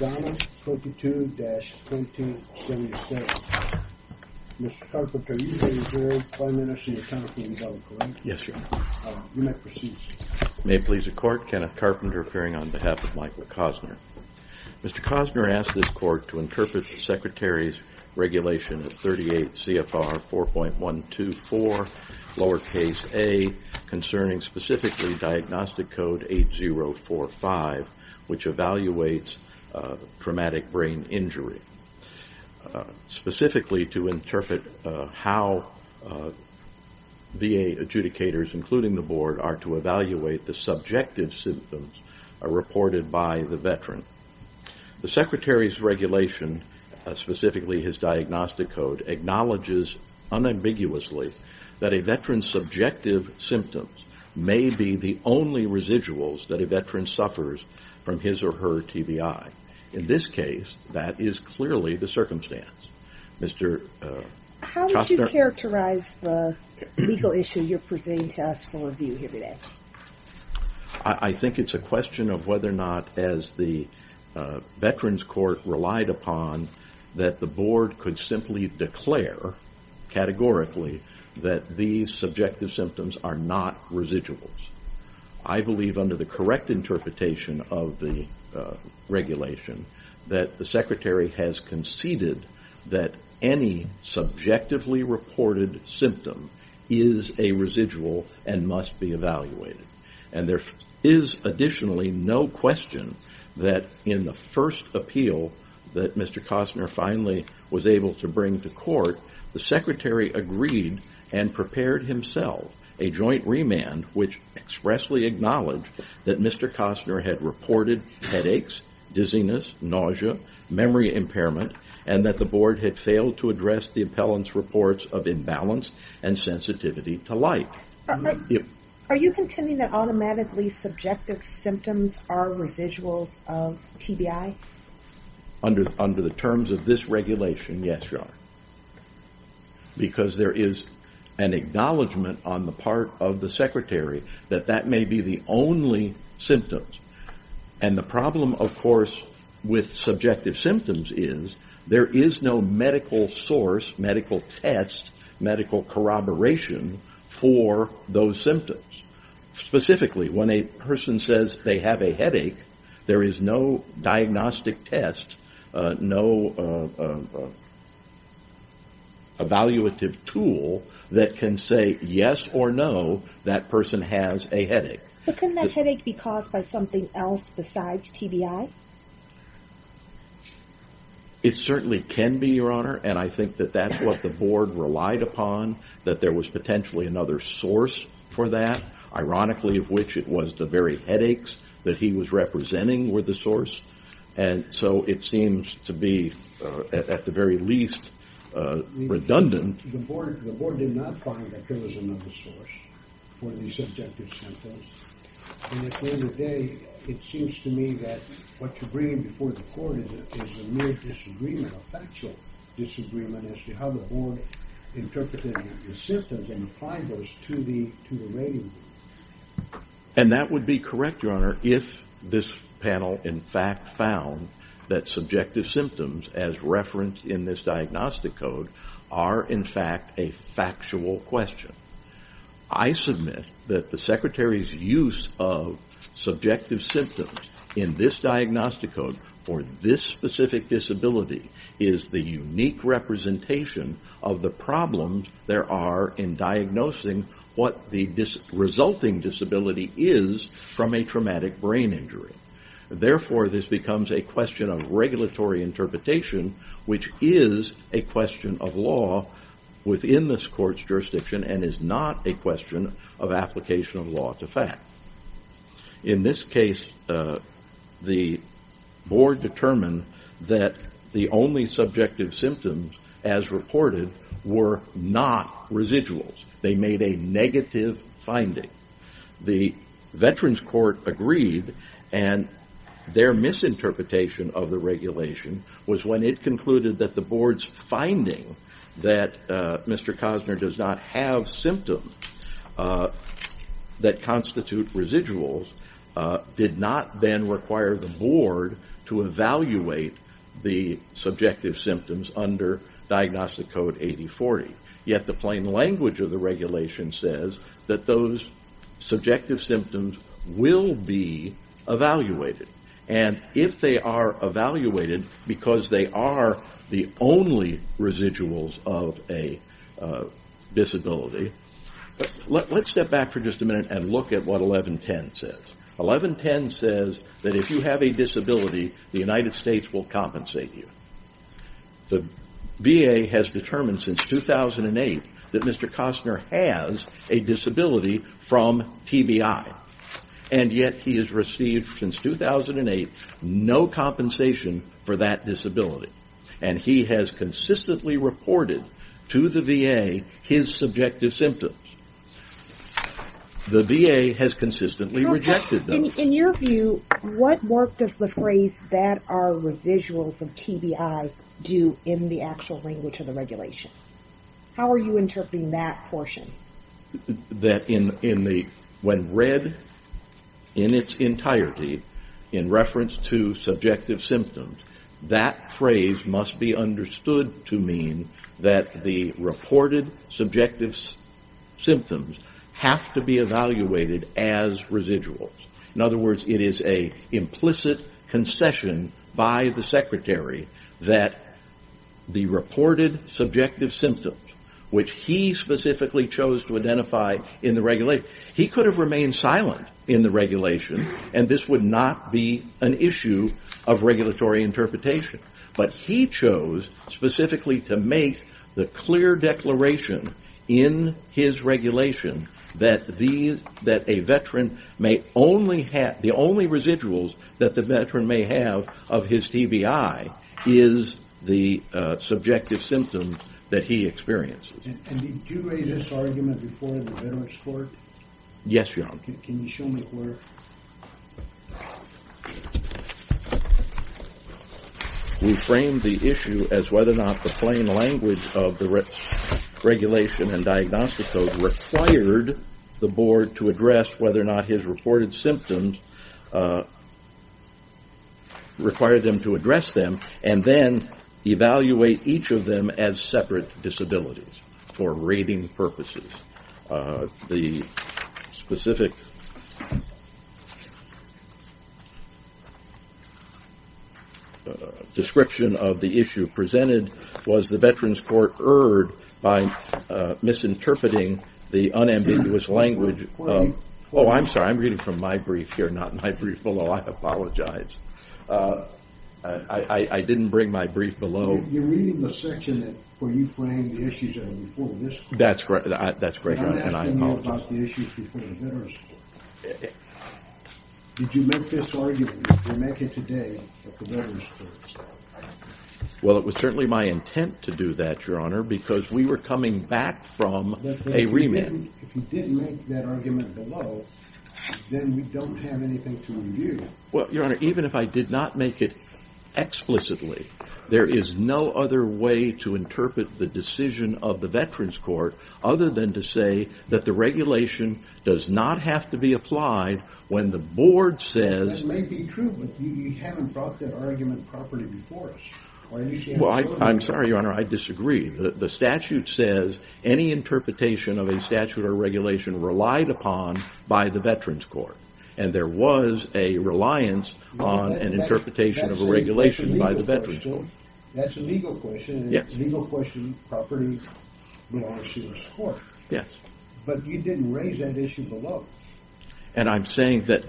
May it please the court, Kenneth Carpenter appearing on behalf of Michael Kossnar. Mr. Kossnar asked this court to interpret the Secretary's Regulation 38 CFR 4.124 lowercase A concerning specifically diagnostic code 8045 which evaluates traumatic brain injury. Specifically to interpret how VA adjudicators including the board are to evaluate the subjective symptoms reported by the veteran. The Secretary's Regulation specifically his diagnostic code acknowledges unambiguously that a veteran's subjective symptoms may be the only residuals that a veteran suffers from his or her TBI. In this case, that is clearly the circumstance. Mr. Kossnar How would you characterize the legal issue you're presenting to us for review here today? I think it's a question of whether or not as the veterans court relied upon that the board could simply declare categorically that these subjective symptoms are not residuals. I believe under the correct interpretation of the regulation that the Secretary has conceded that any subjectively reported symptom is a residual and must be evaluated. There is additionally no question that in the first appeal that Mr. Kossnar finally was able to bring to court, the Secretary agreed and prepared himself a joint remand which expressly acknowledged that Mr. Kossnar had reported headaches, dizziness, nausea, memory impairment, and that the board had failed to address the appellant's reports of imbalance and sensitivity to light. Are you contending that automatically subjective symptoms are residuals of TBI? Under the terms of this regulation, yes, you are. Because there is an acknowledgment on the part of the Secretary that that may be the only symptoms. The problem, of course, with subjective symptoms is there is no medical source, medical test, medical corroboration for those symptoms. Specifically, when a person says they have a headache, there is no diagnostic test, no evaluative tool that can say yes or no, that person has a headache. But can that headache be caused by something else besides TBI? It certainly can be, Your Honor, and I think that that's what the board relied upon, that there was potentially another source for that, ironically of which it was the very headaches that he was representing were the source. And so it seems to be, at the very least, redundant. The board did not find that there was another source for these subjective symptoms. And at the end of the day, it seems to me that what you're bringing before the court is a mere disagreement, a factual disagreement as to how the board interpreted the symptoms and applied those to the rating. And that would be correct, Your Honor, if this panel in fact found that subjective symptoms as referenced in this diagnostic code are in fact a factual question. I submit that the Secretary's use of subjective symptoms in this diagnostic code for this specific disability is the unique representation of the problems there are in diagnosing what the resulting disability is from a traumatic brain injury. Therefore, this becomes a question of not a question of application of law to fact. In this case, the board determined that the only subjective symptoms as reported were not residuals. They made a negative finding. The Veterans Court agreed and their misinterpretation of the regulation was when it concluded that the board's finding that Mr. Cosner does not have symptoms that constitute residuals did not then require the board to evaluate the subjective symptoms under Diagnostic Code 8040. Yet the plain language of the regulation says that those the only residuals of a disability. Let's step back for just a minute and look at what 1110 says. 1110 says that if you have a disability, the United States will compensate you. The VA has determined since 2008 that Mr. Cosner has a disability from TBI. Yet he has received since 2008 no compensation for that disability. He has consistently reported to the VA his subjective symptoms. The VA has consistently rejected them. In your view, what work does the phrase that are residuals of TBI do in the actual language of the regulation? How are you interpreting that portion? That when read in its entirety, in reference to subjective symptoms, that phrase must be understood to mean that the reported subjective symptoms have to be evaluated as residuals. In other words, it is an implicit concession by the Secretary that the reported subjective symptoms, which he specifically chose to identify in the regulation, he could have remained silent in the regulation, and this would not be an issue of regulatory interpretation. But he chose specifically to make the clear declaration in his regulation that a veteran may only have, the only residuals that the veteran may have of his TBI is the subjective symptoms that he experiences. And did you raise this argument before the veterans court? Yes, your honor. Can you show me where? We framed the issue as whether or not the plain language of the regulation and diagnostic code required the board to address whether or not his reported symptoms required them to address them and then evaluate each of them as separate disabilities for rating purposes. The specific description of the issue presented was the veterans court erred by misinterpreting the unambiguous language. Oh, I'm sorry. I'm reading from my brief here, not my brief below. I apologize. I didn't bring my brief below. You're reading the section where you frame the issues before this court. That's correct. That's great. And I apologize. I'm asking you about the issues before the veterans court. Did you make this argument? Did you make it today at the veterans court? Well, it was certainly my intent to do that, your honor, because we were coming back from a remit. If you didn't make that argument below, then we don't have anything to review. Well, your honor, even if I did not make it explicitly, there is no other way to interpret the decision of the veterans court other than to say that the regulation does not have to be applied when the board says. This may be true, but you haven't brought that argument properly before us. Well, I'm sorry, your honor. I disagree. The statute says any interpretation of a statute or regulation relied upon by the veterans court. And there was a reliance on an interpretation of a regulation by the veterans court. That's a legal question. And it's a legal question property belongs to this court. Yes. But you didn't raise that issue below. And I'm saying that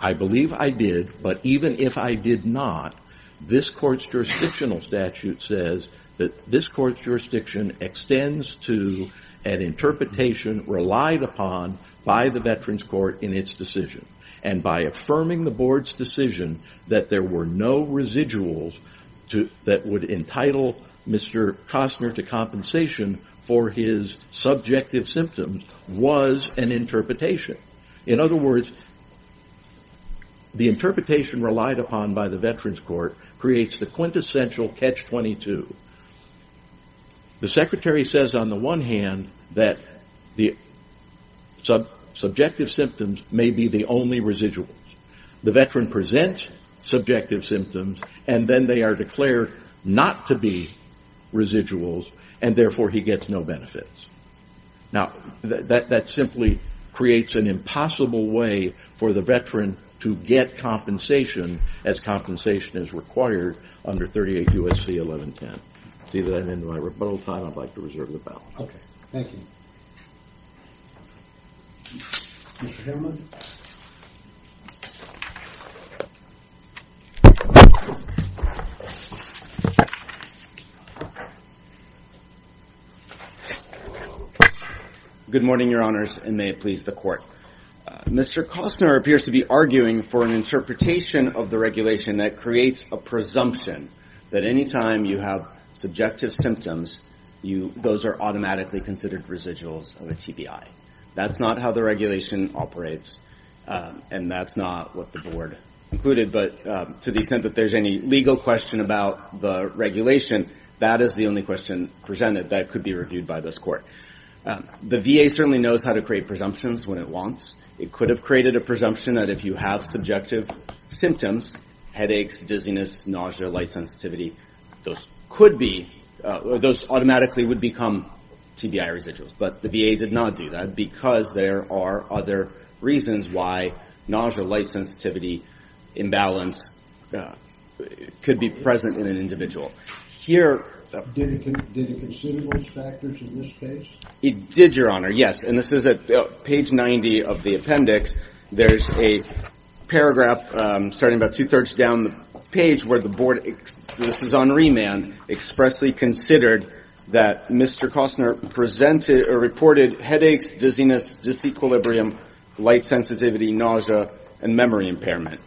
I believe I did, but even if I did not, this court's jurisdictional statute says that this court's jurisdiction extends to an interpretation relied upon by the veterans court in its decision. And by affirming the board's decision that there were no residuals that would entitle Mr. Kostner to compensation for his subjective symptoms was an interpretation. In other words, the interpretation relied upon by the veterans court creates the quintessential catch 22. The secretary says on the one hand that the subjective symptoms may be the only residuals. The veteran presents subjective symptoms and then they are declared not to be residuals and therefore he gets no benefits. Now, that simply creates an impossible way for the veteran to get compensation as compensation is required under 38 USC 1110. See that in my rebuttal time. I'd like to reserve the balance. Okay. Thank you. Good morning, your honors, and may it please the court. Mr. Kostner appears to be arguing for an interpretation of the regulation that creates a presumption that anytime you have subjective symptoms, those are automatically considered residuals of a TBI. That's not how the regulation operates and that's not what the board included. But to the extent that there's any legal question about the regulation, that is the only question presented that could be reviewed by this court. The VA certainly knows how to create presumptions when it wants. It could have created a presumption that if you have subjective symptoms, headaches, dizziness, nausea, light sensitivity, those automatically would become TBI residuals. But the VA did not do that because there are other reasons why nausea, light sensitivity, imbalance could be present in an individual. Did it consider those factors in this case? It did, your honor. Yes. And this is at page 90 of the appendix. There's a paragraph starting about two thirds down the page where the board, this is on remand, expressly considered that Mr. Kostner presented or reported headaches, dizziness, disequilibrium, light sensitivity, nausea, and memory impairment.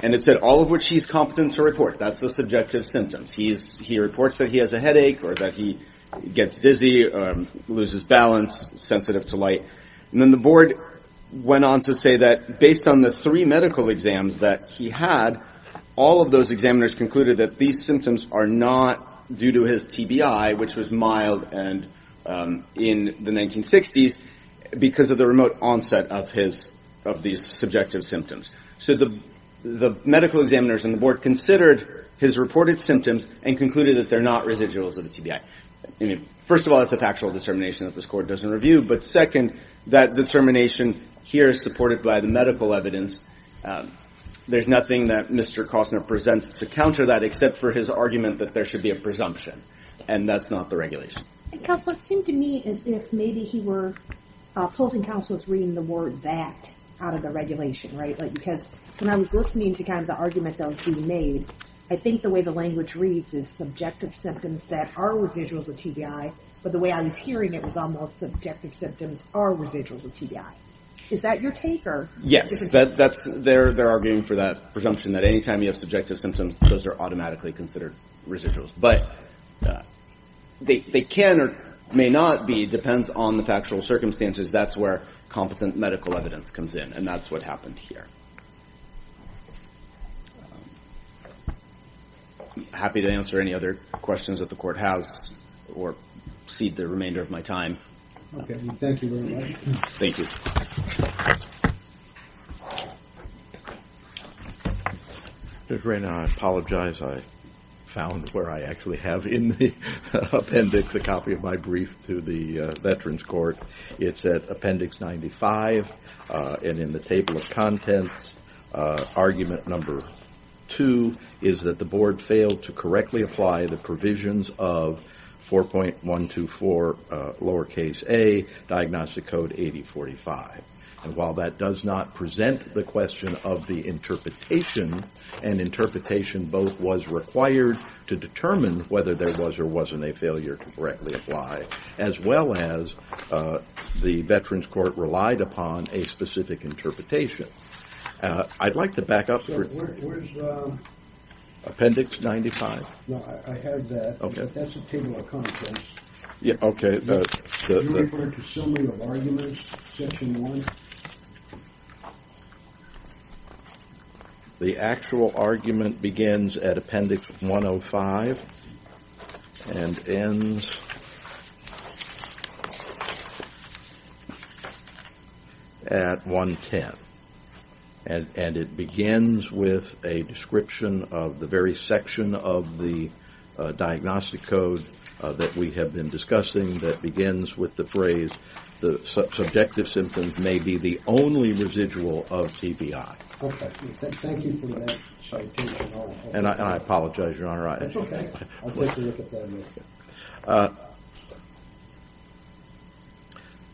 And it said all of which he's competent to report. That's the subjective symptoms. He reports that he has a headache or that he gets dizzy, loses balance, sensitive to light. And then the board went on to say that based on the three medical exams that he had, all of those examiners concluded that these symptoms are not due to his TBI, which was mild in the 1960s because of the remote onset of these subjective symptoms. So the medical examiners and the board considered his reported symptoms and concluded that they're not residuals of the TBI. First of all, it's a factual determination that this court doesn't review. But second, that determination here is supported by the medical evidence. There's nothing that Mr. Kostner presents to counter that except for his argument that there should be a presumption. And that's not the regulation. Counselor, it seemed to me as if maybe he were opposing counselors reading the word that out of the regulation, right? Because when I was listening to kind of the argument that was being made, I think the way the language reads is subjective symptoms that are residuals of TBI. But the way I was hearing it was almost subjective symptoms are residuals of TBI. Is that your take? Yes, they're arguing for that presumption that anytime you have subjective symptoms, those are automatically considered residuals. But they can or may not be, depends on the factual circumstances. That's where competent medical evidence comes in. And that's what happened here. I'm happy to answer any other questions that the court has or cede the remainder of my time. Okay. Thank you very much. Thank you. Judge Raynard, I apologize. I found where I actually have in the appendix a copy of my brief to the Veterans Court. It's at appendix 95. And in the table of contents, argument number two is that the board failed to correctly apply the provisions of 4.124 lowercase a diagnostic code 8045. And while that does not present the question of the interpretation, and interpretation both was required to determine whether there was or wasn't a failure to correctly apply, as well as the Veterans Court relied upon a specific interpretation. I'd like to back up. Appendix 95. No, I have that. Okay. That's a table of contents. Yeah. Okay. You refer to summary of arguments section one. The actual argument begins at appendix 105 and ends at 110. And it begins with a description of the very section of the diagnostic code that we have been discussing that begins with the phrase, the subjective symptoms may be the only residual of TBI. Okay. Thank you for that. And I apologize, Your Honor. That's okay. I'll take a look at that in a minute.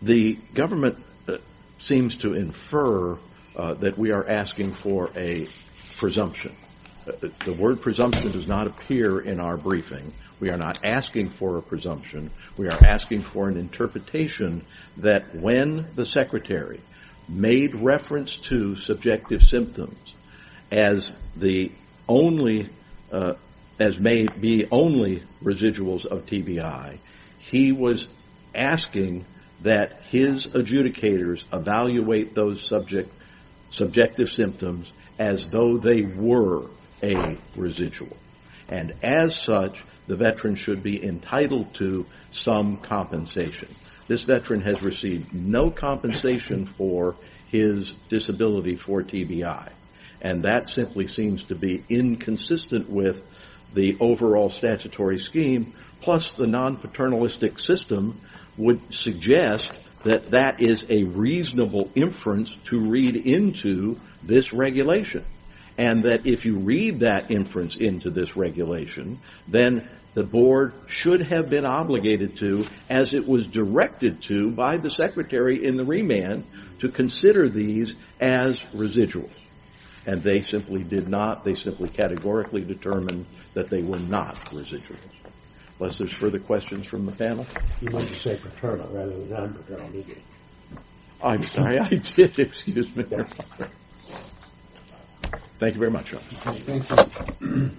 The government seems to infer that we are asking for a presumption. The word presumption does not appear in our briefing. We are not asking for a presumption. We are asking for an interpretation that when the Secretary made reference to subjective symptoms as may be only residuals of TBI, he was asking that his adjudicators evaluate those subjective symptoms as though they were a residual. And as such, the veteran should be entitled to some compensation. This veteran has received no compensation for his disability for TBI. And that simply seems to be inconsistent with the overall statutory scheme, plus the non-paternalistic system would suggest that that is a reasonable inference to read into this regulation. And that if you read that inference into this regulation, then the board should have been obligated to, as it was directed to by the Secretary in the remand, to consider these as residuals. And they simply did not. They simply categorically determined that they were not residuals. Unless there's further questions from the panel? You meant to say paternal rather than non-paternal, did you? I'm sorry, I did. Excuse me, Your Honor. Thank you very much, Your Honor. Thank you.